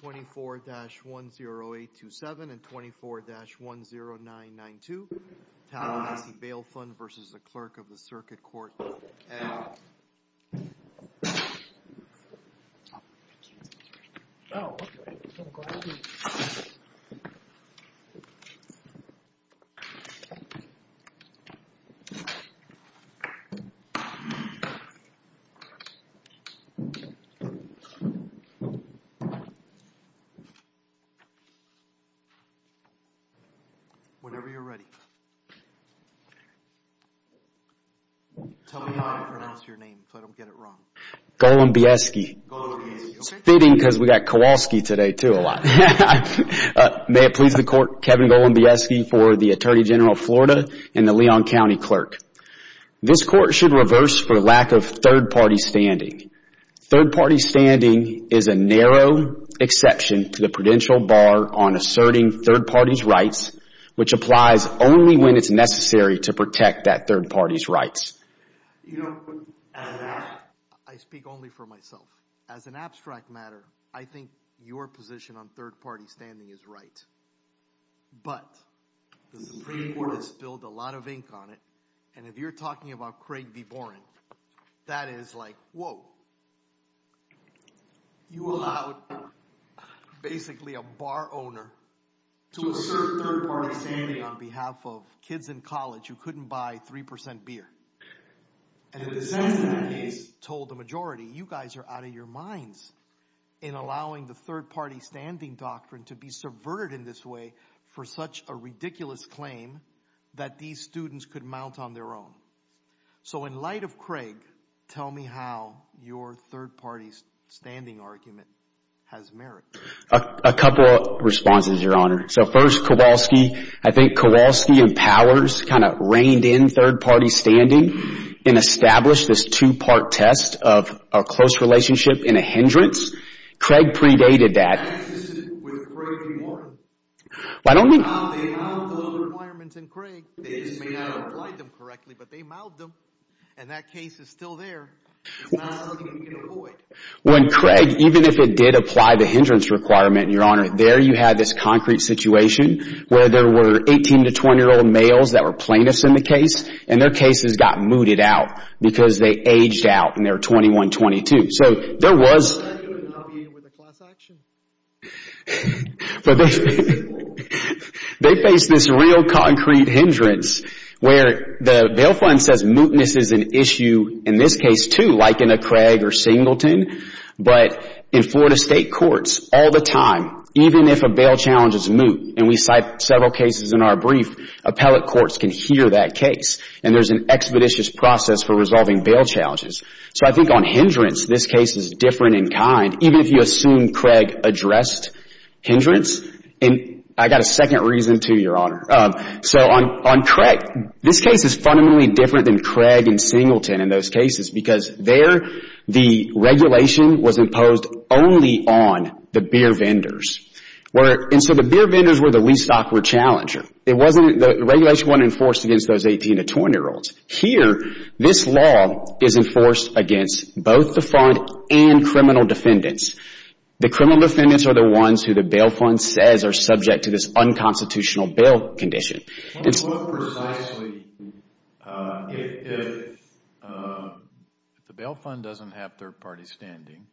24-10827 and 24-10992, Tallahassee Bail Fund v. Clerk of the Circuit Court and Comptroller for Leon County, Kevin Golombieski v. Attorney General of Florida and the Leon County Clerk. This Court should reverse for lack of third party standing. Third party standing is a narrow exception to the prudential bar on asserting third party's rights, which applies only when it's necessary to protect that third party's rights. I speak only for myself. As an abstract matter, I think your position on third party standing is right. But the Supreme Court has spilled a lot of ink on it, and if you're talking about Craig B. Boren, that is like, whoa, you allowed basically a bar owner to assert third party standing on behalf of kids in college who couldn't buy 3% beer, and if the Senate in that case told the majority, you guys are out of your minds in allowing the third party standing doctrine to be subverted in this way for such a ridiculous claim that these students could mount on their own. So in light of Craig, tell me how your third party's standing argument has merit. A couple of responses, Your Honor. So first, Kowalski, I think Kowalski and Powers kind of reined in third party standing and established this two part test of a close relationship in a hindrance. Craig predated that. I don't think that's consistent with Craig B. Boren. Why don't we? When Craig, even if it did apply the hindrance requirement, Your Honor, there you had this concrete situation where there were 18 to 20 year old males that were plaintiffs in the case and their cases got mooted out because they aged out and they were 21, 22. So there was. They faced this real concrete hindrance where the bail fund says mootness is an issue in this case, too, like in a Craig or Singleton, but in Florida state courts all the time, even if a bail challenge is moot and we cite several cases in our brief, appellate courts can hear that case and there's an expeditious process for resolving bail challenges. So I think on hindrance, this case is different in kind, even if you assume Craig addressed hindrance. And I got a second reason, too, Your Honor. So on Craig, this case is fundamentally different than Craig and Singleton in those cases because there the regulation was imposed only on the beer vendors. And so the beer vendors were the least awkward challenger. It wasn't. The regulation wasn't enforced against those 18 to 20 year olds. Here, this law is enforced against both the fund and criminal defendants. The criminal defendants are the ones who the bail fund says are subject to this unconstitutional bail condition. To put it precisely, if the bail fund doesn't have third party standing,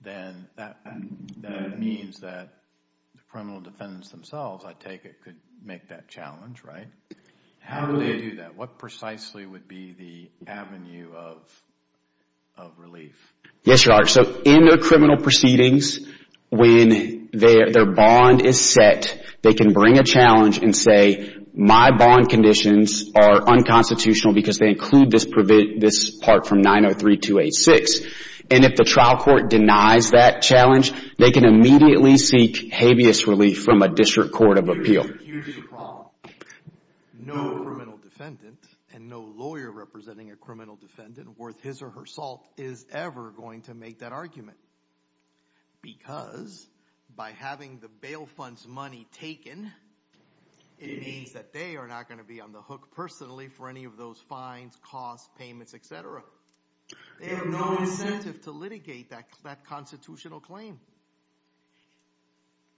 then that means that the criminal defendants themselves, I take it, could make that challenge, right? How would they do that? What precisely would be the avenue of relief? Yes, Your Honor. So in the criminal proceedings, when their bond is set, they can bring a challenge and say, my bond conditions are unconstitutional because they include this part from 903-286. And if the trial court denies that challenge, they can immediately seek habeas relief from a district court of appeal. Here's the problem. No criminal defendant and no lawyer representing a criminal defendant worth his or her salt is ever going to make that argument. Because by having the bail fund's money taken, it means that they are not going to be on the hook personally for any of those fines, costs, payments, etc. They have no incentive to litigate that constitutional claim.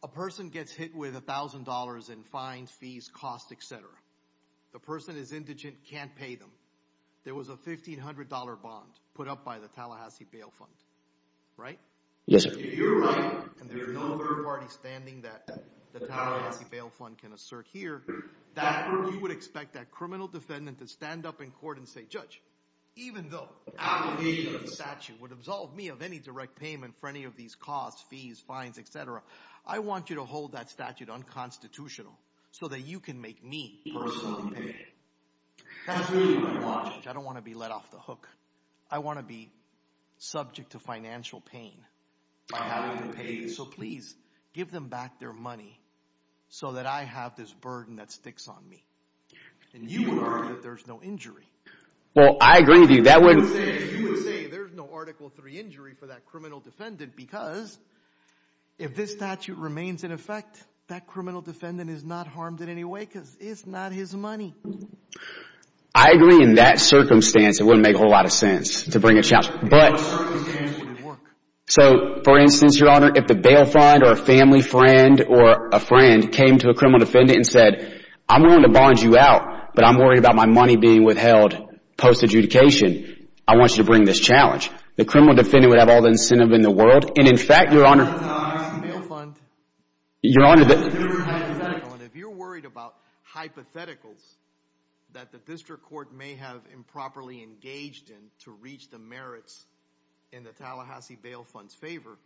A person gets hit with a thousand dollars in fines, fees, costs, etc. The person is indigent, can't pay them. There was a fifteen hundred dollar bond put up by the Tallahassee Bail Fund, right? Yes, you're right. And there's no third party standing that the Tallahassee Bail Fund can assert here. That group would expect that criminal defendant to stand up in court and say, judge, even though the application of the statute would absolve me of any direct payment for any of these costs, fees, fines, etc., I want you to hold that statute unconstitutional so that you can make me personally pay. That's really what I want. I don't want to be let off the hook. I want to be subject to financial pain by having to pay this. So please give them back their money so that I have this burden that sticks on me. And you will argue that there's no injury. Well, I agree with you. That wouldn't say there's no Article 3 injury for that criminal defendant, because if this statute remains in effect, that criminal defendant is not harmed in any way because it's not his money. I agree in that circumstance, it wouldn't make a whole lot of sense to bring a child. But so, for instance, your honor, if the bail fund or a family friend or a friend came to a criminal defendant and said, I'm willing to bond you out, but I'm worried about my money being withheld post adjudication, I want you to bring this challenge. The criminal defendant would have all the incentive in the world. And in fact, your honor, your honor, if you're worried about hypotheticals that the district court may have improperly engaged in to reach the merits in the Tallahassee Bail Fund's favor,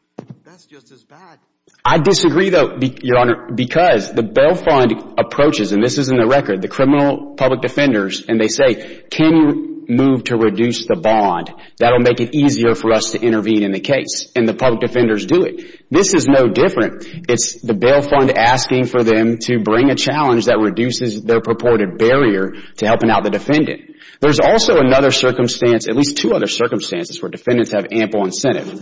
that's just as bad. I disagree, though, your honor, because the bail fund approaches and this is in the record, the criminal public defenders and they say, can you move to reduce the bond? That'll make it easier for us to intervene in the case. And the public defenders do it. This is no different. It's the bail fund asking for them to bring a challenge that reduces their purported barrier to helping out the defendant. There's also another circumstance, at least two other circumstances, where defendants have ample incentive.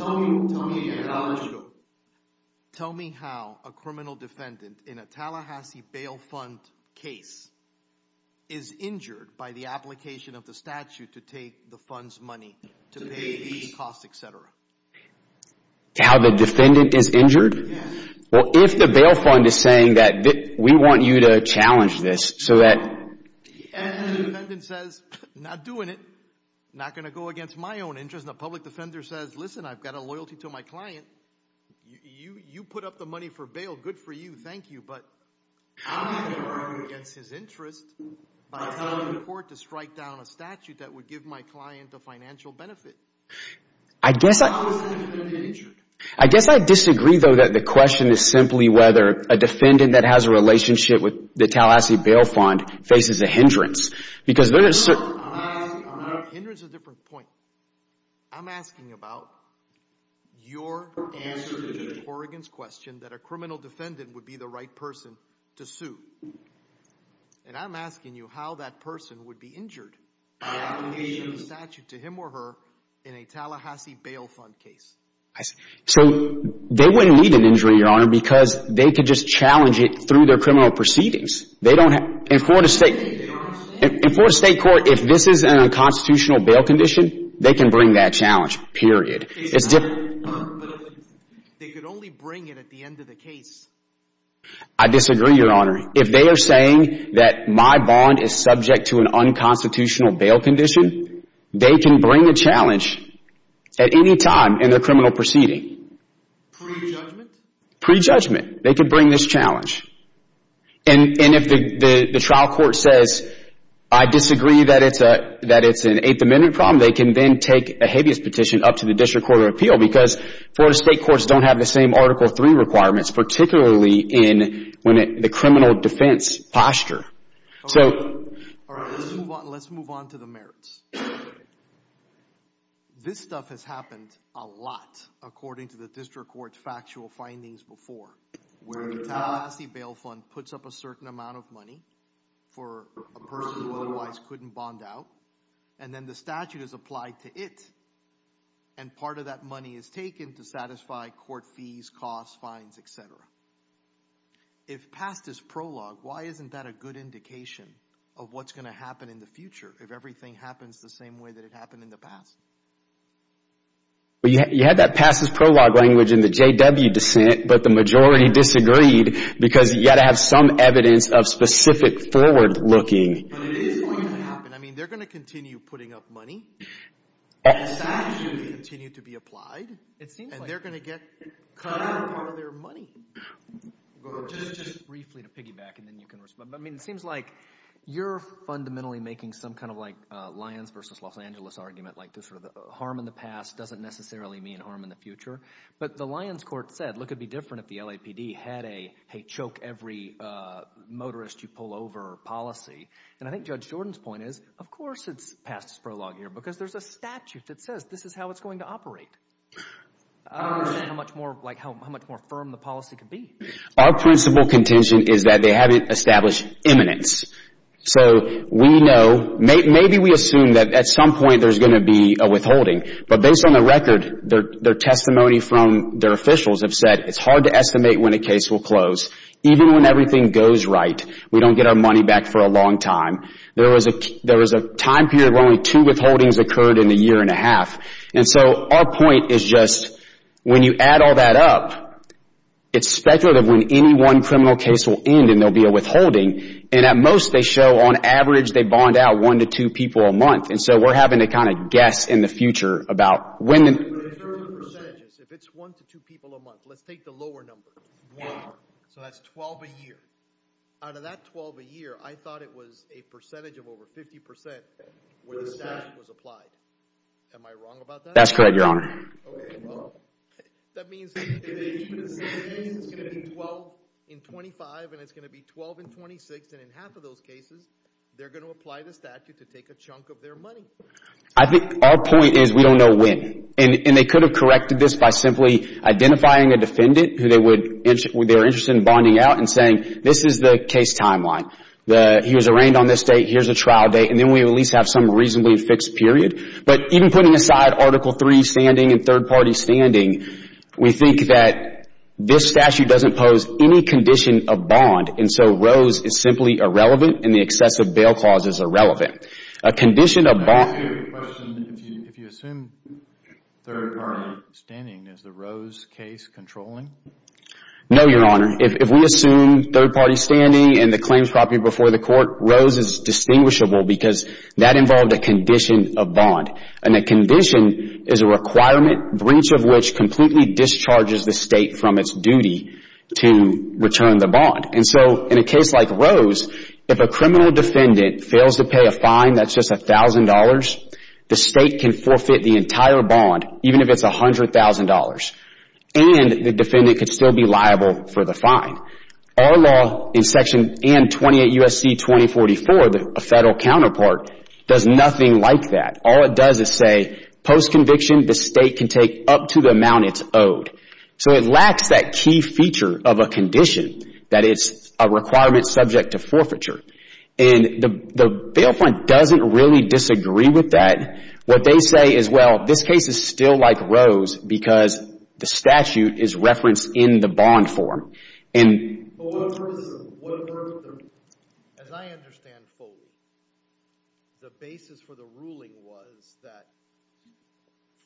Tell me how a criminal defendant in a Tallahassee Bail Fund case is injured by the application of the statute to take the fund's money, to pay the cost, etc. How the defendant is injured? Well, if the bail fund is saying that we want you to challenge this so that. And the defendant says, not doing it, not going to go against my own interest. And the public defender says, listen, I've got a loyalty to my client. You put up the money for bail. Good for you. Thank you. But I'm not going to go against his interest by telling the court to strike down a statute that would give my client a financial benefit. I guess I disagree, though, that the question is simply whether a defendant that has a relationship with the Tallahassee Bail Fund faces a hindrance because there is a hindrance, a different point. I'm asking about your answer to Oregon's question that a criminal defendant would be the right person to sue. And I'm asking you how that person would be injured by the application of the statute to him or her in a Tallahassee Bail Fund case. So they wouldn't need an injury, Your Honor, because they could just challenge it through their criminal proceedings. In Florida State Court, if this is an unconstitutional bail condition, they can bring that challenge. Period. It's different. They could only bring it at the end of the case. I disagree, Your Honor. If they are saying that my bond is subject to an unconstitutional bail condition, they can bring a challenge at any time in their criminal proceeding. Pre-judgment. They could bring this challenge. And if the trial court says, I disagree that it's a that it's an eighth amendment problem, they can then take a habeas petition up to the District Court of Appeal because Florida State Courts don't have the same Article 3 requirements, particularly in the criminal defense posture. So let's move on to the merits. This stuff has happened a lot according to the district court's factual findings before. Where the Tallahassee Bail Fund puts up a certain amount of money for a person who otherwise couldn't bond out and then the statute is applied to it. And part of that money is taken to satisfy court fees, costs, fines, etc. If past is prologue, why isn't that a good indication of what's going to happen in the future if everything happens the same way that it happened in the past? Well, you had that past is prologue language in the JW dissent, but the majority disagreed because you got to have some evidence of specific forward looking. I mean, they're going to continue putting up money. The statute will continue to be applied. It seems like they're going to get cut out of their money. Just briefly to piggyback and then you can respond. I mean, it seems like you're fundamentally making some kind of like Lyons versus Los argument, like this sort of harm in the past doesn't necessarily mean harm in the future. But the Lyons court said, look, it'd be different if the LAPD had a choke every motorist you pull over policy. And I think Judge Jordan's point is, of course, it's past prologue here because there's a statute that says this is how it's going to operate. How much more like how much more firm the policy could be. Our principal contention is that they haven't established eminence. So we know maybe we assume that at some point there's going to be a withholding. But based on the record, their testimony from their officials have said it's hard to estimate when a case will close, even when everything goes right. We don't get our money back for a long time. There was a there was a time period where only two withholdings occurred in a year and a half. And so our point is just when you add all that up, it's speculative when any one criminal case will end and there'll be a withholding. And at most, they show on average, they bond out one to two people a month. And so we're having to kind of guess in the future about when. If it's one to two people a month, let's take the lower number. So that's 12 a year out of that 12 a year. I thought it was a percentage of over 50 percent where the statute was applied. Am I wrong about that? That's correct, Your Honor. OK, well, that means it's going to be 12 in 25 and it's going to be 12 in 26. And in half of those cases, they're going to apply the statute to take a chunk of their money. I think our point is we don't know when and they could have corrected this by simply identifying a defendant who they would they're interested in bonding out and saying this is the case timeline that he was arraigned on this date. Here's a trial date. And then we at least have some reasonably fixed period. But even putting aside Article three standing and third party standing, we think that this statute doesn't pose any condition of bond. And so Rose is simply irrelevant. And the excessive bail clause is irrelevant. A condition of bond, if you assume third party standing, is the Rose case controlling? No, Your Honor. If we assume third party standing and the claims property before the Rose is distinguishable because that involved a condition of bond. And the condition is a requirement breach of which completely discharges the state from its duty to return the bond. And so in a case like Rose, if a criminal defendant fails to pay a fine that's just a thousand dollars, the state can forfeit the entire bond, even if it's a hundred thousand dollars. And the defendant could still be liable for the fine. Our law in Section 28 U.S.C. 2044, the federal counterpart, does nothing like that. All it does is say post conviction, the state can take up to the amount it's owed. So it lacks that key feature of a condition that it's a requirement subject to forfeiture. And the bail point doesn't really disagree with that. What they say is, well, this case is still like Rose because the statute is referenced in the bond form. And. As I understand fully, the basis for the ruling was that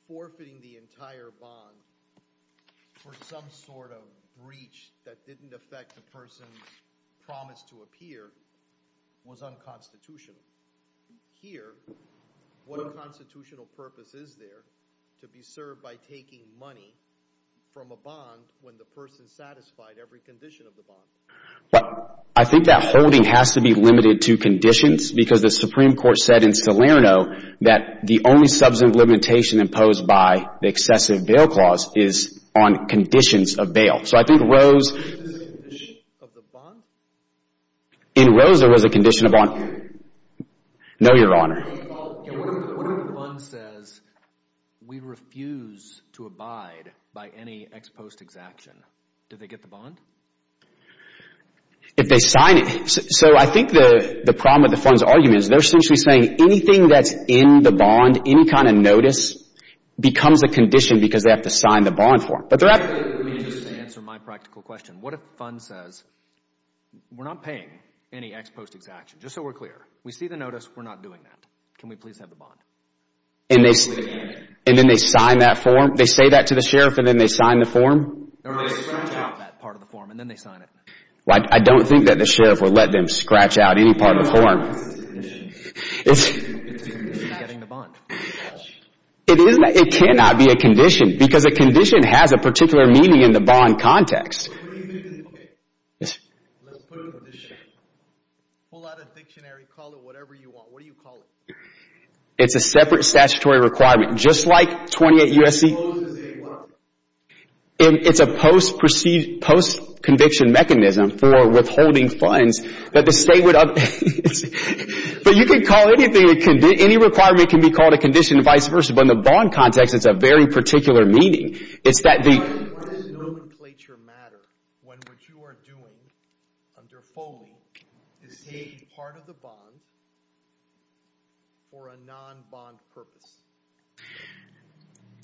forfeiting the entire bond for some sort of breach that didn't affect the person's promise to appear was unconstitutional. Here, what a constitutional purpose is there to be served by making money from a bond when the person satisfied every condition of the bond? Well, I think that holding has to be limited to conditions because the Supreme Court said in Salerno that the only substantive limitation imposed by the excessive bail clause is on conditions of bail. So I think Rose. In Rose, there was a condition of bond. No, Your Honor. Well, what if the fund says we refuse to abide by any ex post exaction? Did they get the bond? If they sign it. So I think the problem with the fund's argument is they're essentially saying anything that's in the bond, any kind of notice becomes a condition because they have to sign the bond form. But they're not. Let me just answer my practical question. What if the fund says we're not paying any ex post exaction? Just so we're clear. We see the notice. We're not doing that. Can we please have the bond? And they and then they sign that form. They say that to the sheriff and then they sign the form part of the form and then they sign it. Well, I don't think that the sheriff would let them scratch out any part of the It is that it cannot be a condition because a condition has a particular meaning in the bond context. OK, let's pull out a dictionary, call it whatever you want. What do you call it? It's a separate statutory requirement, just like 28 U.S.C. And it's a post perceived post conviction mechanism for withholding funds that the state would up. But you can call anything it can be. Any requirement can be called a condition and vice versa. But in the bond context, it's a very particular meaning. It's that the. Why does nomenclature matter when what you are doing under foley is taking part of the bond for a non bond purpose?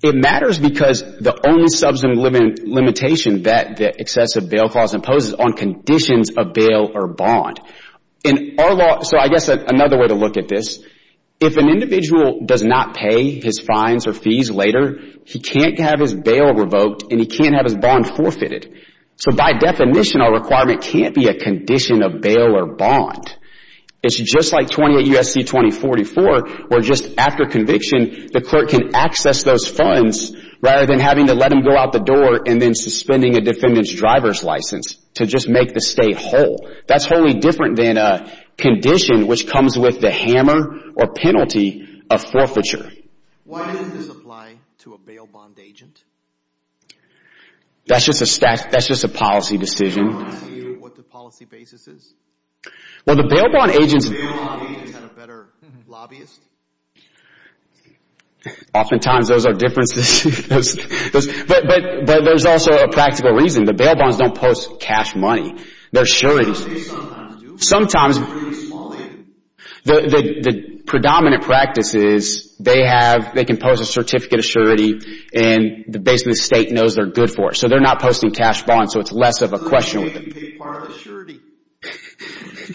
It matters because the only substantive limitation that the excessive bail clause imposes on conditions of bail or bond in our law. So I guess another way to look at this, if an individual does not pay his fines or fees later, he can't have his bail revoked and he can't have his bond forfeited. So by definition, our requirement can't be a condition of bail or bond. It's just like 28 U.S.C. 2044, where just after conviction, the clerk can access those funds rather than having to let him go out the door and then suspending a defendant's driver's license to just make the state whole. That's wholly different than a condition which comes with the hammer or penalty of forfeiture. Why doesn't this apply to a bail bond agent? That's just a policy decision. What the policy basis is? Well, the bail bond agents. The bail bond agents had a better lobbyist. Oftentimes, those are differences, but there's also a practical reason. The bail bonds don't post cash money. They're sure it is. Sometimes, the predominant practice is they can post a certificate of surety and basically the state knows they're good for it. So they're not posting cash bonds. So it's less of a question with them. So the state can take part of the surety. This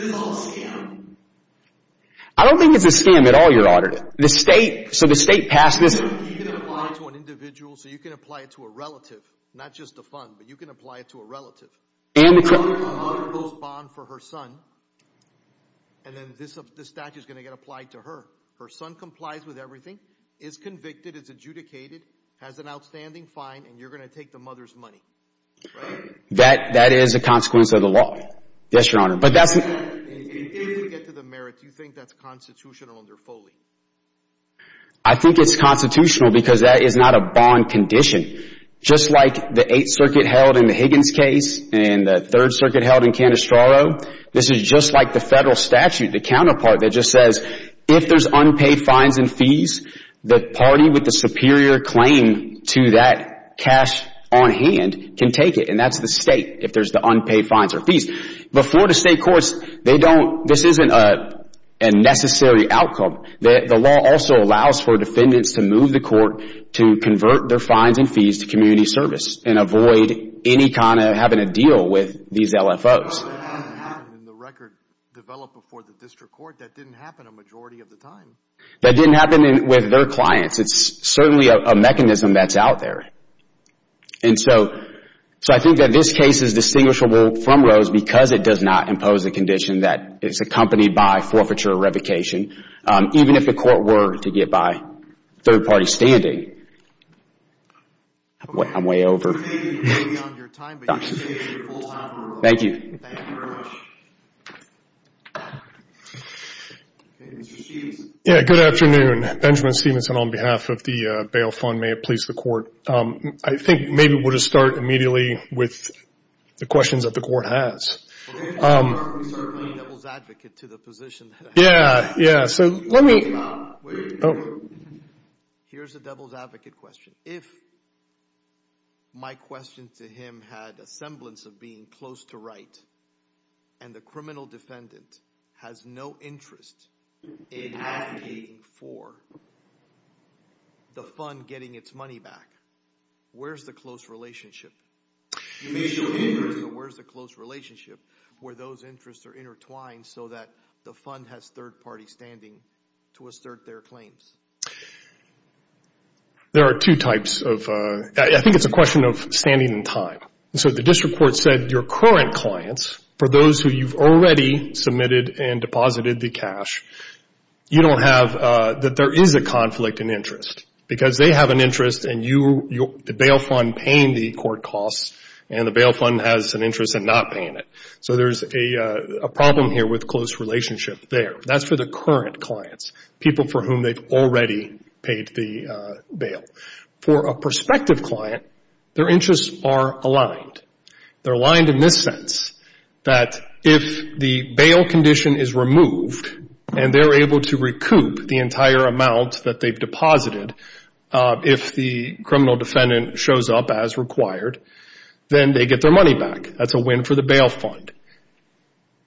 is all a scam. I don't think it's a scam at all, Your Honor. The state, so the state passed this. So you can apply it to an individual, so you can apply it to a relative, not just a fund, but you can apply it to a relative. And the mother posts a bond for her son, and then this statute is going to get applied to her. Her son complies with everything, is convicted, is adjudicated, has an outstanding fine, and you're going to take the mother's money. That that is a consequence of the law. Yes, Your Honor. But that's... In order to get to the merits, do you think that's constitutional under Foley? I think it's constitutional because that is not a bond condition, just like the Eighth and the Third Circuit held in Canestraro. This is just like the federal statute, the counterpart that just says, if there's unpaid fines and fees, the party with the superior claim to that cash on hand can take it. And that's the state, if there's the unpaid fines or fees. Before the state courts, they don't, this isn't a necessary outcome. The law also allows for defendants to move the court to convert their fines and fees to community service and avoid any kind of having to deal with these LFOs. In the record developed before the district court, that didn't happen a majority of the time. That didn't happen with their clients. It's certainly a mechanism that's out there. And so, so I think that this case is distinguishable from Rose because it does not impose a condition that is accompanied by forfeiture or revocation, even if the court were to get by third party standing. I'm way over. Thank you. Yeah, good afternoon. Benjamin Stevenson on behalf of the bail fund, may it please the court. I think maybe we'll just start immediately with the questions that the court has. Yeah, yeah. So let me. Here's the devil's advocate question. If my question to him had a semblance of being close to right and the criminal defendant has no interest in advocating for the fund getting its money back, where's the close relationship? Where's the close relationship where those interests are intertwined so that the fund has third party standing to assert their claims? There are two types of, I think it's a question of standing in time. So the district court said your current clients, for those who you've already submitted and deposited the cash, you don't have, that there is a conflict in interest because they have an interest and you, the bail fund paying the court costs and the bail fund has an interest in not paying it. So there's a problem here with close relationship there. That's for the current clients, people for whom they've already paid the cash. For a prospective client, their interests are aligned. They're aligned in this sense, that if the bail condition is removed and they're able to recoup the entire amount that they've deposited, if the criminal defendant shows up as required, then they get their money back. That's a win for the bail fund.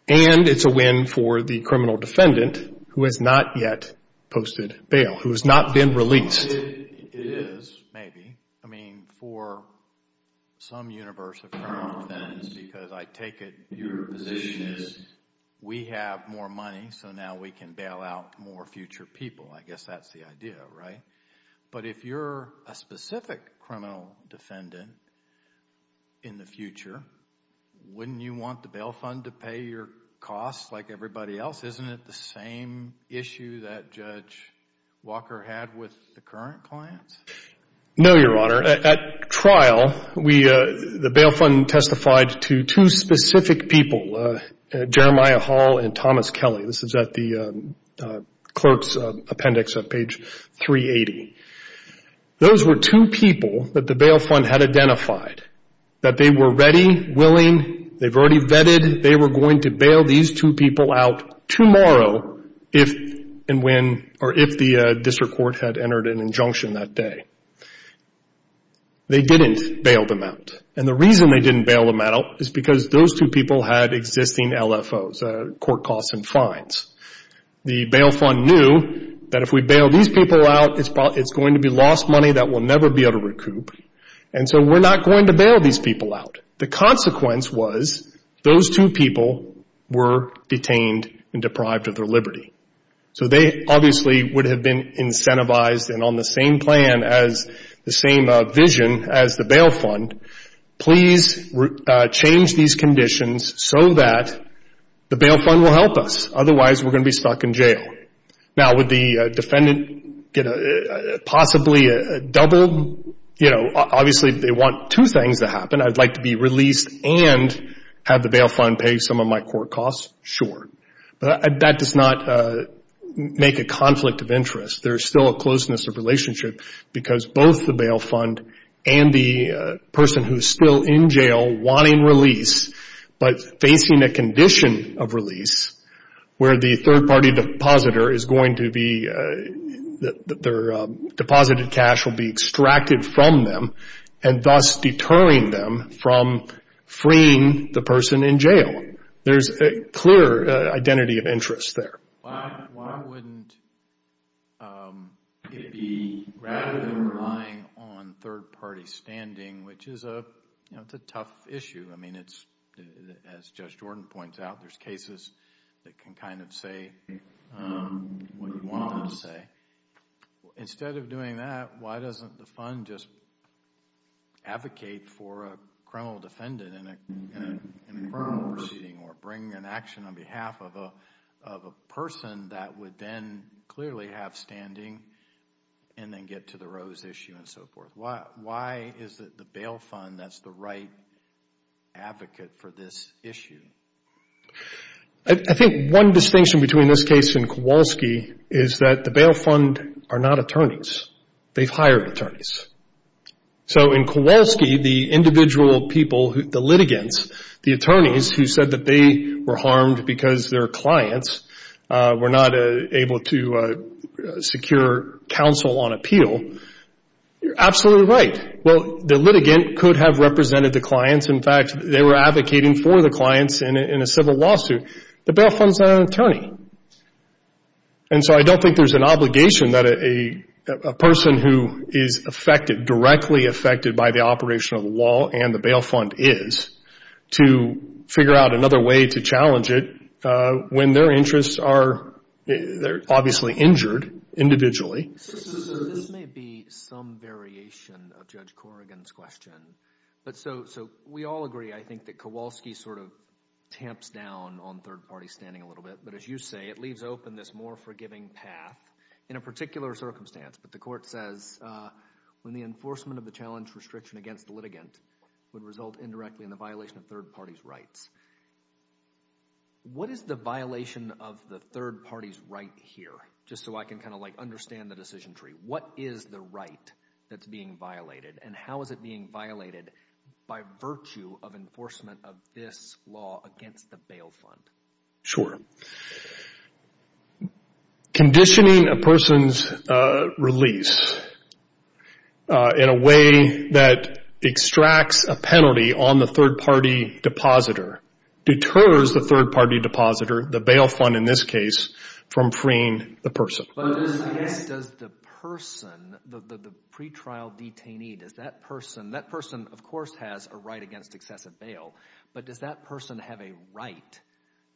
And it's a win for the criminal defendant who has not yet posted bail. Who has not been released. It is, maybe. I mean, for some universe of criminal defendants, because I take it your position is we have more money, so now we can bail out more future people. I guess that's the idea, right? But if you're a specific criminal defendant in the future, wouldn't you want the bail fund to pay your costs like everybody else? Isn't it the same issue that Judge Walker had with the current clients? No, Your Honor. At trial, the bail fund testified to two specific people, Jeremiah Hall and Thomas Kelly. This is at the clerk's appendix on page 380. Those were two people that the bail fund had identified, that they were ready, willing, they've already vetted, they were going to bail these two people out tomorrow if and when, or if the district court had entered an injunction that day. They didn't bail them out. And the reason they didn't bail them out is because those two people had existing LFOs, court costs and fines. The bail fund knew that if we bail these people out, it's going to be lost money that will never be able to recoup. And so we're not going to bail these people out. The consequence was those two people were detained and deprived of their liberty. So they obviously would have been incentivized and on the same plan as the same vision as the bail fund, please change these conditions so that the bail fund will help us. Otherwise, we're going to be stuck in jail. Now, would the defendant get possibly a double, you know, obviously they want two things to happen. I'd like to be released and have the bail fund pay some of my court costs, sure. But that does not make a conflict of interest. There's still a closeness of relationship because both the bail fund and the person who's still in jail wanting release, but facing a condition of release where the third party depositor is going to be, their deposited cash will be extracted from them and thus deterring them from freeing the person in jail. There's a clear identity of interest there. Why wouldn't it be rather than relying on third party standing, which is a, you know, it's a tough issue. I mean, it's, as Judge Jordan points out, there's cases that can kind of say what you want them to say. Instead of doing that, why doesn't the fund just advocate for a criminal defendant in a criminal proceeding or bring an action on behalf of a person that would then clearly have standing and then get to the Rose issue and so forth? Why is it the bail fund that's the right advocate for this issue? I think one distinction between this case and Kowalski is that the bail fund are not attorneys. They've hired attorneys. So in Kowalski, the individual people, the litigants, the attorneys who said that they were harmed because their clients were not able to secure counsel on appeal, you're absolutely right. Well, the litigant could have represented the clients. In fact, they were advocating for the clients in a civil lawsuit. The bail fund's not an attorney. And so I don't think there's an obligation that a person who is affected, directly affected by the operation of the law and the bail fund is to figure out another way to challenge it when their interests are obviously injured individually. This may be some variation of Judge Corrigan's question. But so we all agree, I think, that Kowalski sort of tamps down on third party standing a little bit. But as you say, it leaves open this more forgiving path in a particular circumstance. But the court says, when the enforcement of the challenge restriction against the litigant would result indirectly in the violation of third party's rights, what is the violation of the third party's right here? Just so I can kind of like understand the decision tree. What is the right that's being violated? And how is it being violated by virtue of enforcement of this law against the bail fund? Conditioning a person's release in a way that extracts a penalty on the third party depositor deters the third party depositor, the bail fund in this case, from freeing the person. But does the person, the pretrial detainee, does that person, that person, of course, has a right against excessive bail. But does that person have a right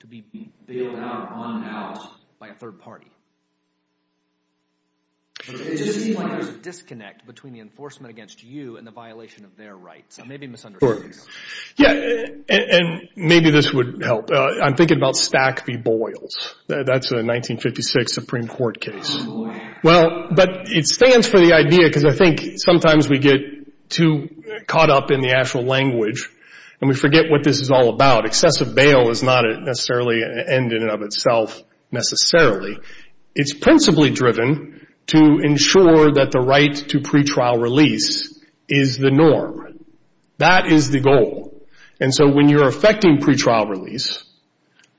to be bailed out, run out by a third party? It just seems like there's a disconnect between the enforcement against you and the violation of their rights. I may be misunderstanding. Yeah, and maybe this would help. I'm thinking about Stack v. Boyles. That's a 1956 Supreme Court case. Well, but it stands for the idea, because I think sometimes we get too caught up in the actual language and we forget what this is all about. Excessive bail is not necessarily an end in and of itself necessarily. It's principally driven to ensure that the right to pretrial release is the norm. That is the goal. And so when you're affecting pretrial release,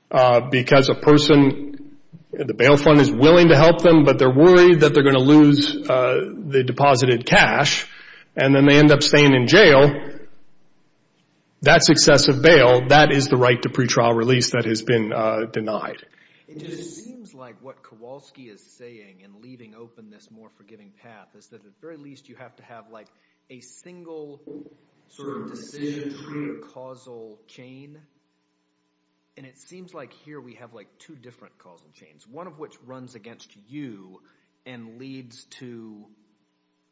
because a person, the bail fund is willing to help them, but they're worried that they're going to lose the deposited cash, and then they end up staying in jail, that's excessive bail. That is the right to pretrial release that has been denied. It just seems like what Kowalski is saying in leaving open this more forgiving path is that at the very least you have to have like a single sort of decision tree, a causal chain. And it seems like here we have like two different causal chains, one of which runs against you and leads to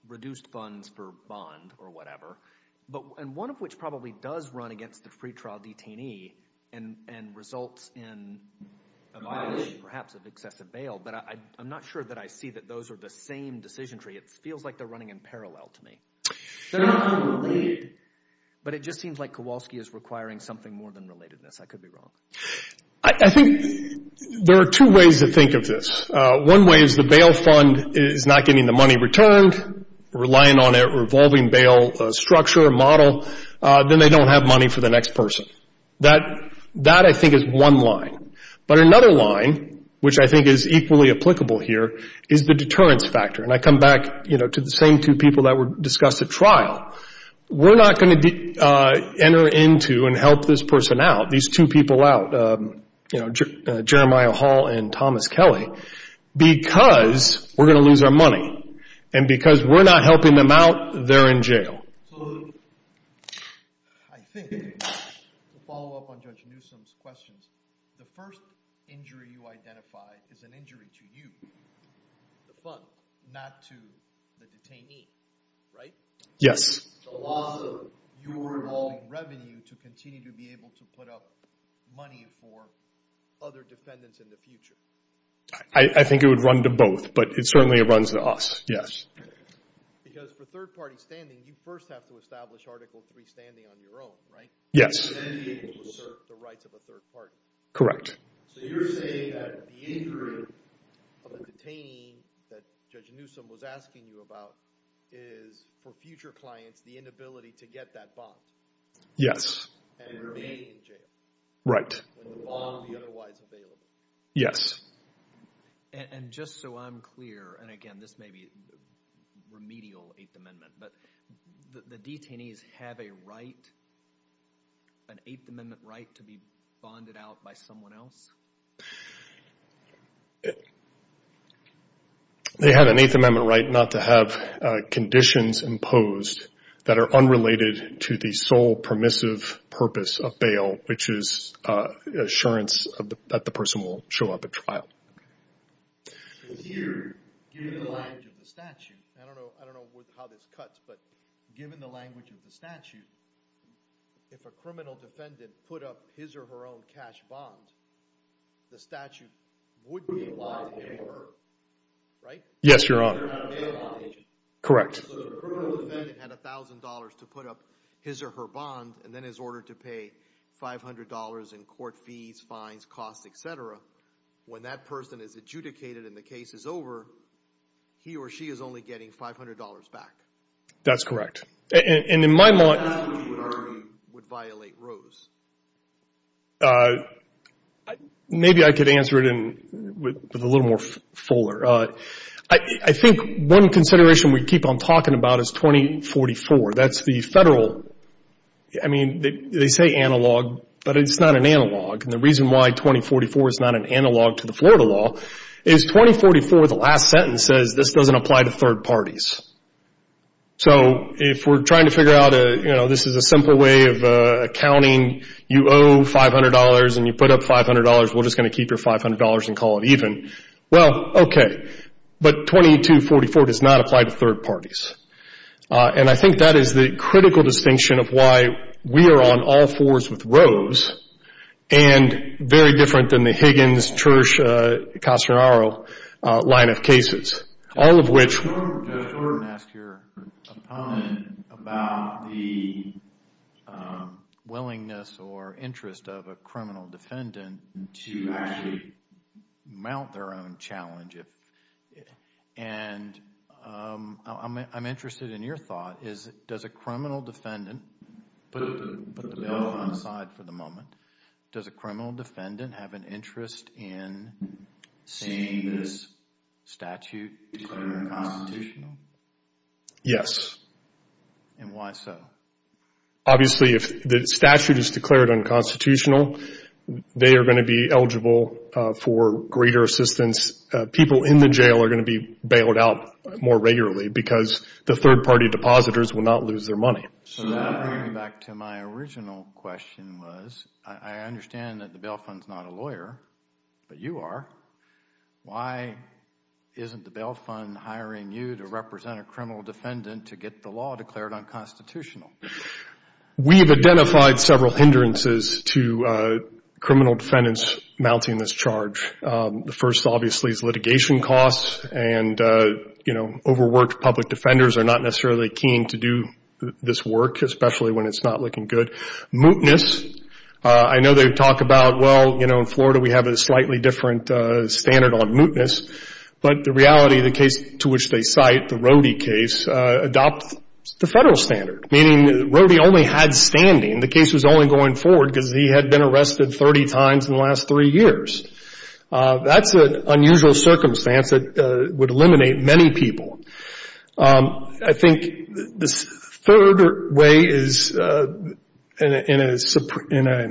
reduced funds for bond or whatever. But and one of which probably does run against the pretrial detainee and results in a violation perhaps of excessive bail. But I'm not sure that I see that those are the same decision tree. It feels like they're running in parallel to me. They're not going to lead, but it just seems like Kowalski is requiring something more than relatedness. I could be wrong. I think there are two ways to think of this. One way is the bail fund is not getting the money returned, relying on a revolving bail structure, model. Then they don't have money for the next person. That I think is one line. But another line, which I think is equally applicable here, is the deterrence factor. And I come back to the same two people that were discussed at trial. We're not going to enter into and help this person out, these two people out, Jeremiah Hall and Thomas Kelly, because we're going to lose our money. And because we're not helping them out, they're in jail. So I think, to follow up on Judge Newsom's questions, the first injury you identify is an injury to you, the fund, not to the detainee, right? Yes. The loss of your revolving revenue to continue to be able to put up money for other defendants in the future. I think it would run to both, but it certainly runs to us, yes. Because for third party standing, you first have to establish Article III standing on your own, right? Yes. And then be able to assert the rights of a third party. So you're saying that the injury of the detainee that Judge Newsom was asking you about is, for future clients, the inability to get that bond? Yes. And remain in jail. Right. When the bond would be otherwise available. Yes. And just so I'm clear, and again, this may be remedial Eighth Amendment, but the detainees have a right, an Eighth Amendment right, to be bonded out by someone else? They have an Eighth Amendment right not to have conditions imposed that are unrelated to the sole permissive purpose of bail, which is assurance that the person will show up at trial. So here, given the language of the statute, I don't know how this cuts, but given the language of the statute, if a criminal defendant put up his or her own cash bond, the statute would be allowed to pay for her, right? Yes, Your Honor. So they're not a bail bond agent. Correct. So if a criminal defendant had $1,000 to put up his or her bond, and then is ordered to pay $500 in court fees, fines, costs, et cetera, when that person is adjudicated and the case is over, he or she is only getting $500 back? That's correct. And in my mind- How would you argue would violate Rose? Maybe I could answer it with a little more fuller. I think one consideration we keep on talking about is 2044. That's the federal, I mean, they say analog, but it's not an analog. And the reason why 2044 is not an analog to the Florida law is, 2044, the last sentence says, this doesn't apply to third parties. So if we're trying to figure out, this is a simple way of accounting. You owe $500, and you put up $500. We're just going to keep your $500 and call it even. Well, OK. But 2244 does not apply to third parties. And I think that is the critical distinction of why we are on all fours with Rose and very different than the Higgins, Church, Castanaro line of cases, all of which- Judge Gordon, Judge Gordon, I'm going to ask your opponent about the willingness or interest of a criminal defendant to actually mount their own challenge. And I'm interested in your thought. Does a criminal defendant, put the bill on the side for the moment, does a criminal defendant have an interest in seeing this statute declared unconstitutional? Yes. And why so? Obviously, if the statute is declared unconstitutional, they are going to be eligible for greater assistance. People in the jail are going to be bailed out more regularly because the third party depositors will not lose their money. So that brings me back to my original question was, I understand that the bail fund is not a lawyer, but you are. Why isn't the bail fund hiring you to represent a criminal defendant to get the law declared unconstitutional? We've identified several hindrances to criminal defendants mounting this charge. The first, obviously, is litigation costs. And overworked public defenders are not necessarily keen to do this work, especially when it's not looking good. Mootness, I know they talk about, well, in Florida, we have a slightly different standard on mootness. But the reality, the case to which they cite, the Rody case, adopts the federal standard, meaning that Rody only had standing. The case was only going forward because he had been arrested 30 times in the last three years. That's an unusual circumstance that would eliminate many people. I think this third way is in a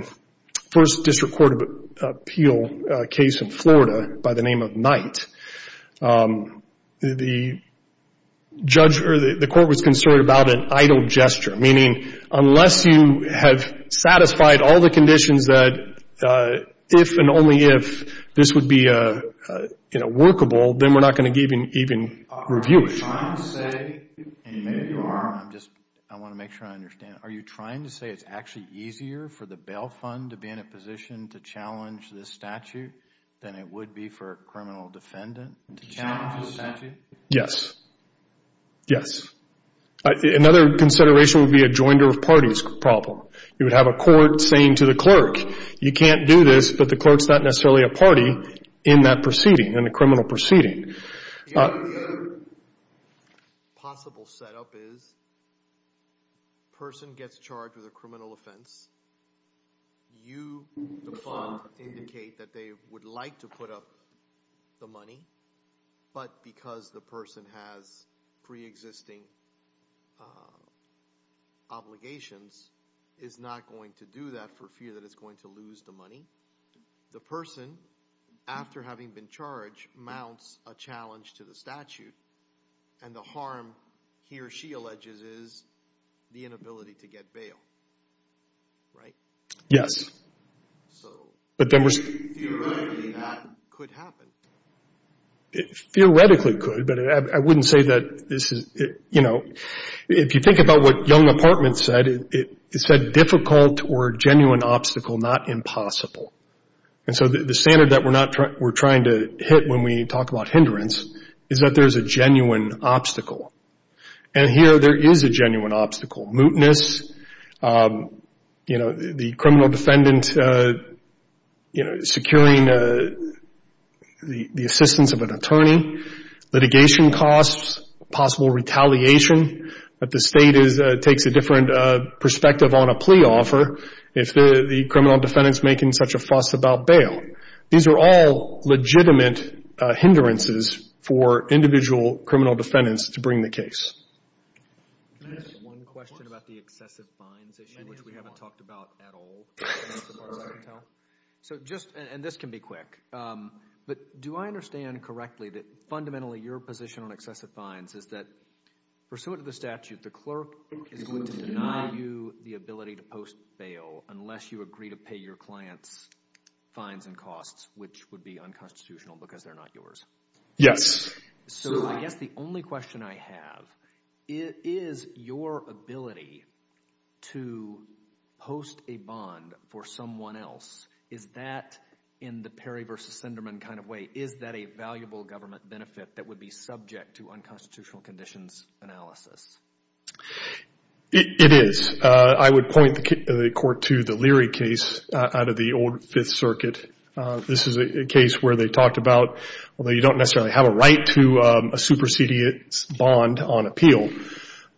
First District Court of Appeal case in Florida by the name of Knight, the court was concerned about an idle gesture, meaning unless you have satisfied all the conditions that if and only if this would be workable, then we're not going to even review it. Are you trying to say, and maybe you are, I want to make sure I understand, are you trying to say it's actually easier for the bail fund to be in a position to challenge this statute than it would be for a criminal defendant to challenge this statute? Yes. Yes. Another consideration would be a joinder of parties problem. You would have a court saying to the clerk, you can't do this, but the clerk's not necessarily a party in that proceeding, in the criminal proceeding. Possible setup is person gets charged with a criminal offense. You, the fund, indicate that they would like to put up the money, but because the person has pre-existing obligations is not going to do that for fear that it's going to lose the money. The person, after having been charged, mounts a challenge to the statute. And the harm, he or she alleges, is the inability to get bail. Right? Yes. So, theoretically, that could happen. Theoretically, it could, but I wouldn't say that this is, you know, if you think about what Young Apartments said, it said difficult or genuine obstacle, not impossible. And so the standard that we're trying to hit when we talk about hindrance is that there's a genuine obstacle. And here, there is a genuine obstacle. Mutinous, you know, the criminal defendant, you know, securing the assistance of an attorney. Litigation costs, possible retaliation, that the state takes a different perspective on a plea offer if the criminal defendant's making such a fuss about bail. These are all legitimate hindrances for individual criminal defendants to bring the case. Can I ask one question about the excessive fines issue, which we haven't talked about at all? So just, and this can be quick, but do I understand correctly that, fundamentally, your position on excessive fines is that, pursuant to the statute, the clerk is going to deny you the ability to post bail unless you agree to pay your clients fines and costs, which would be unconstitutional because they're not yours? Yes. So I guess the only question I have, is your ability to post a bond for someone else, is that, in the Perry versus Sinderman kind of way, is that a valuable government benefit that would be subject to unconstitutional conditions analysis? It is. I would point the court to the Leary case out of the old Fifth Circuit. This is a case where they talked about, although you don't necessarily have a right to a supersedient bond on appeal,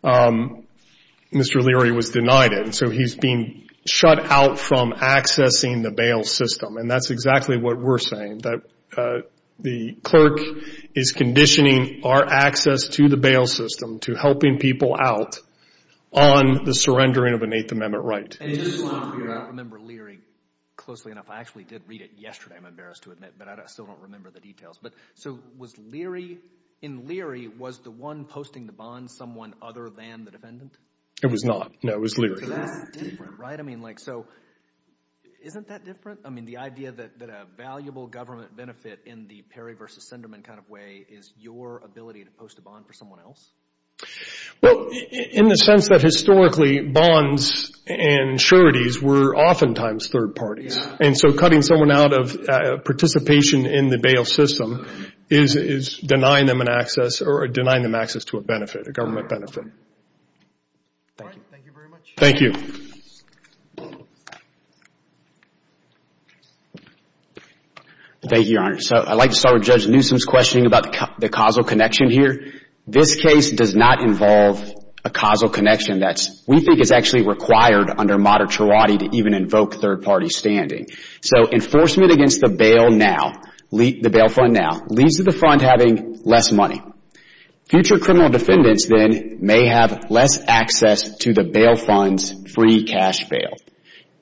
Mr. Leary was denied it. And so he's being shut out from accessing the bail system. And that's exactly what we're saying, that the clerk is conditioning our access to the bail system to helping people out on the surrendering of an Eighth Amendment right. And just to be clear, I don't remember Leary closely enough. I actually did read it yesterday, I'm embarrassed to admit, but I still don't remember the details. But so was Leary, in Leary, was the one posting the bond someone other than the defendant? It was not, no, it was Leary. So that's different, right? I mean, like, so isn't that different? I mean, the idea that a valuable government benefit in the Perry versus Sinderman kind of way is your ability to post a bond for someone else? Well, in the sense that historically, bonds and sureties were oftentimes third parties. And so cutting someone out of participation in the bail system is denying them an access or denying them access to a benefit, a government benefit. Thank you. Thank you very much. Thank you. Thank you, Your Honor. So I'd like to start with Judge Newsom's questioning about the causal connection here. This case does not involve a causal connection that we think is actually required under moderatority to even invoke third party standing. So enforcement against the bail now, the bail fund now, leads to the fund having less money. Future criminal defendants, then, may have less access to the bail fund's free cash bail.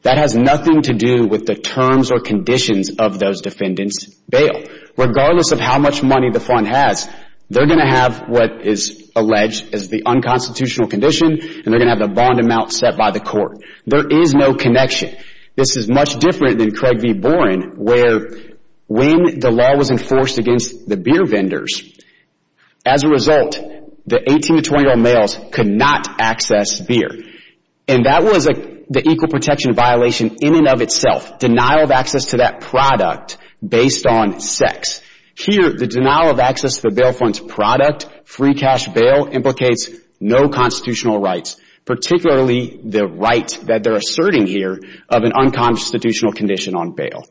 That has nothing to do with the terms or conditions of those defendants' bail. Regardless of how much money the fund has, they're going to have what is alleged as the unconstitutional condition, and they're going to have the bond amount set by the court. There is no connection. This is much different than Craig v. Boren, where when the law was enforced against the beer vendors, as a result, the 18 to 20-year-old males could not access beer. And that was the equal protection violation in and of itself, denial of access to that product based on sex. Here, the denial of access to the bail fund's product, free cash bail, implicates no constitutional rights, particularly the right that they're asserting here of an unconstitutional condition on bail.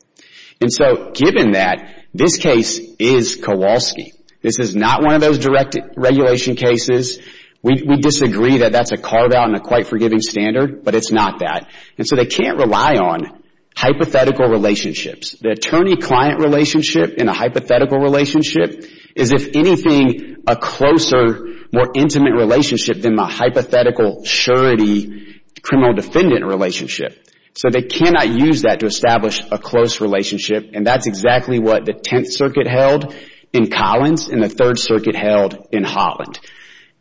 And so given that, this case is Kowalski. This is not one of those direct regulation cases. We disagree that that's a carve-out and a quite forgiving standard, but it's not that. And so they can't rely on hypothetical relationships. The attorney-client relationship in a hypothetical relationship is, if anything, a closer, more intimate relationship than the hypothetical surety criminal-defendant relationship. So they cannot use that to establish a close relationship. And that's exactly what the Tenth Circuit held in Collins and the Third Circuit held in Holland.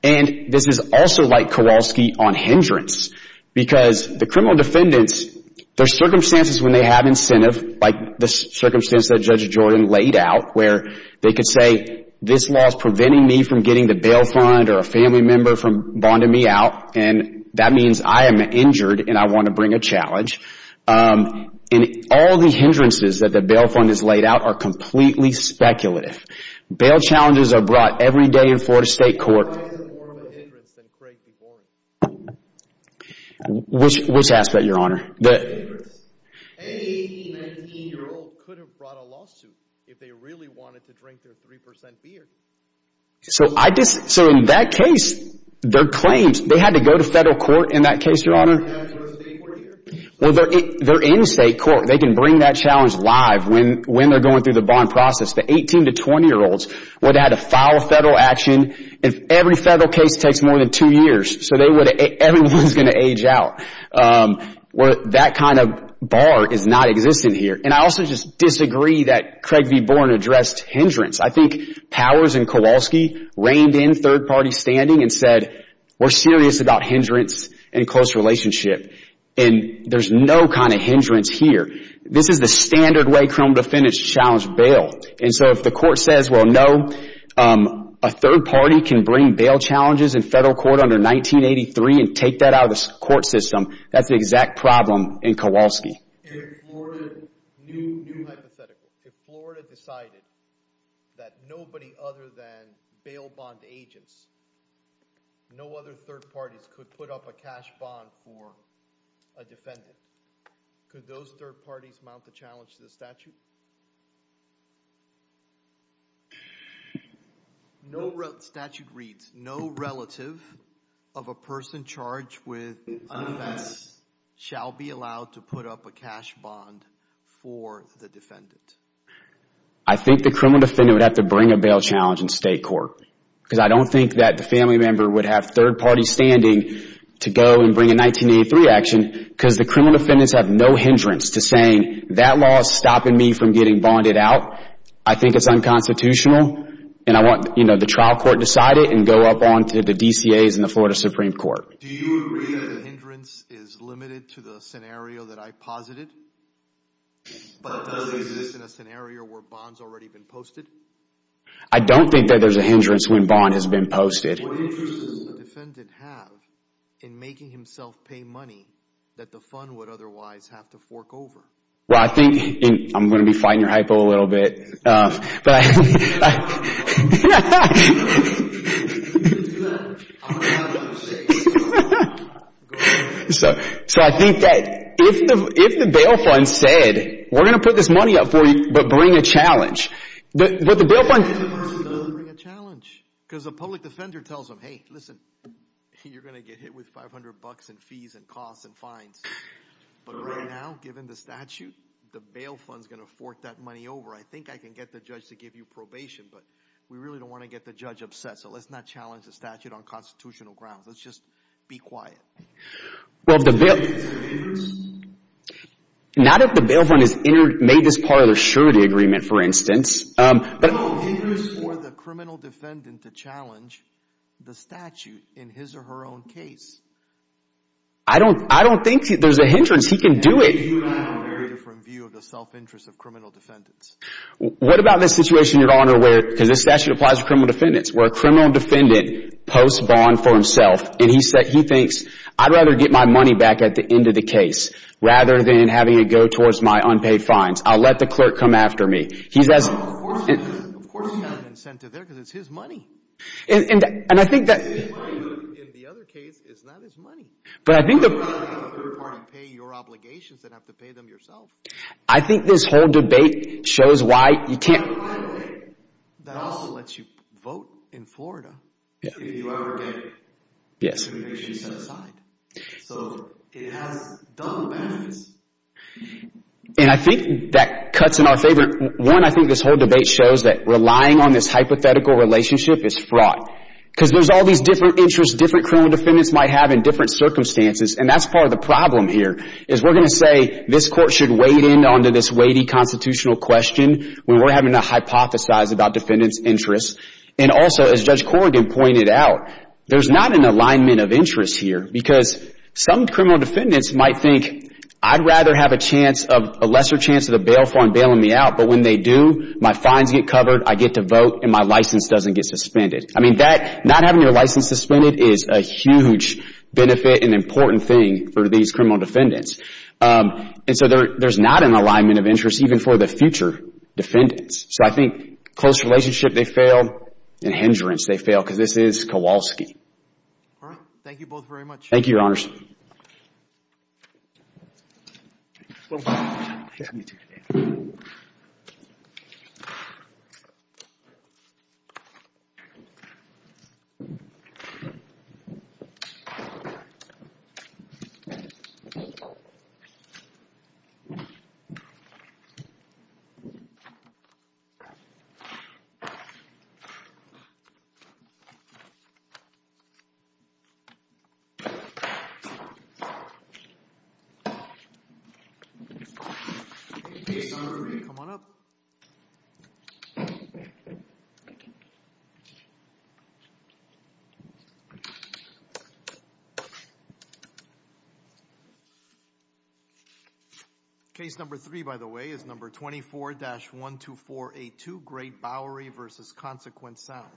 And this is also like Kowalski on hindrance, because the criminal defendants, their circumstances when they have incentive, like the circumstance that Judge Jordan laid out, where they could say, this law is preventing me from getting the bail fund or a family member from bonding me out. And that means I am injured, and I want to bring a challenge. And all the hindrances that the bail fund has laid out are completely speculative. Bail challenges are brought every day in Florida State Court. Why is it more of a hindrance than Craig DeBorn? Which aspect, Your Honor? The hindrance. Any 18, 19-year-old could have brought a lawsuit if they really wanted to drink their 3% beer. So in that case, their claims, they had to go to federal court in that case, Your Honor. They have to go to state court here. Well, they're in state court. They can bring that challenge live when they're going through the bond process. The 18- to 20-year-olds would have to file a federal action if every federal case takes more than two years. So everyone's going to age out. That kind of bar is not existent here. And I also just disagree that Craig DeBorn addressed hindrance. I think Powers and Kowalski reined in third-party standing and said, we're serious about hindrance and close relationship. And there's no kind of hindrance here. This is the standard way criminal defendants challenge bail. And so if the court says, well, no, a third party can bring bail challenges in federal court under 1983 and take that out of the court system, that's the exact problem in Kowalski. If Florida, new hypothetical, if Florida decided that nobody other than bail bond agents, no other third parties could put up a cash bond for a defendant, could those third parties mount the challenge to the statute? Statute reads, no relative of a person charged with an offense shall be allowed to put up a cash bond for the defendant. I think the criminal defendant would have to bring a bail challenge in state court. Because I don't think that the family member would have third-party standing to go and bring a 1983 action, because the criminal defendants have no hindrance to saying, that law is stopping me from getting bonded out. I think it's unconstitutional. And I want the trial court to decide it and go up onto the DCAs and the Florida Supreme Court. Do you agree that the hindrance is limited to the scenario that I posited? But does it exist in a scenario where bond's already been posted? I don't think that there's a hindrance when bond has been posted. What interest does the defendant have in making himself pay money that the fund would otherwise have to fork over? Well, I think I'm going to be fighting your hypo a little bit. But I think that if the bail fund said, we're going to put this money up for you, but bring a challenge, but the bail fund never really does bring a challenge. Because the public defender tells them, hey, listen, you're going to get hit with $500 in fees and costs and fines. But right now, given the statute, the bail fund's going to fork that money over. I think I can get the judge to give you probation. But we really don't want to get the judge upset. So let's not challenge the statute on constitutional grounds. Let's just be quiet. Not if the bail fund has made this part of the surety agreement, for instance. But I don't think there's a hindrance for the criminal defendant to challenge the statute in his or her own case. I don't think there's a hindrance. He can do it. I think you and I have a very different view of the self-interest of criminal defendants. What about this situation, Your Honor, because this statute applies to criminal defendants, where a criminal defendant posts bond for himself, and he thinks, I'd rather get my money back at the end of the case, rather than having it go towards my unpaid fines. I'll let the clerk come after me. No, of course he's got an incentive there, because it's his money. And I think that's his money, but in the other case, it's not his money. But I think the part of paying your obligations, that you have to pay them yourself. I think this whole debate shows why you can't. By the way, that also lets you vote in Florida, if you ever get your obligation set aside. So it has double benefits. And I think that cuts in our favor. One, I think this whole debate shows that relying on this hypothetical relationship is fraught, because there's all these different interests different criminal defendants might have in different circumstances. And that's part of the problem here, is we're going to say, this court should wade in onto this weighty constitutional question, when we're having to hypothesize about defendants' interests. And also, as Judge Corrigan pointed out, there's not an alignment of interests here. Because some criminal defendants might think, I'd rather have a lesser chance of the bail for and bailing me out. But when they do, my fines get covered, I get to vote, and my license doesn't get suspended. I mean, not having your license suspended is a huge benefit and important thing for these criminal defendants. And so there's not an alignment of interest, even for the future defendants. So I think close relationship, they fail. And hindrance, they fail, because this is Kowalski. All right. Thank you both very much. Thank you, Your Honors. Sorry. Come on up. Thank you. Case number three, by the way, is number 24-12482, Great Bowery versus Consequence Sound.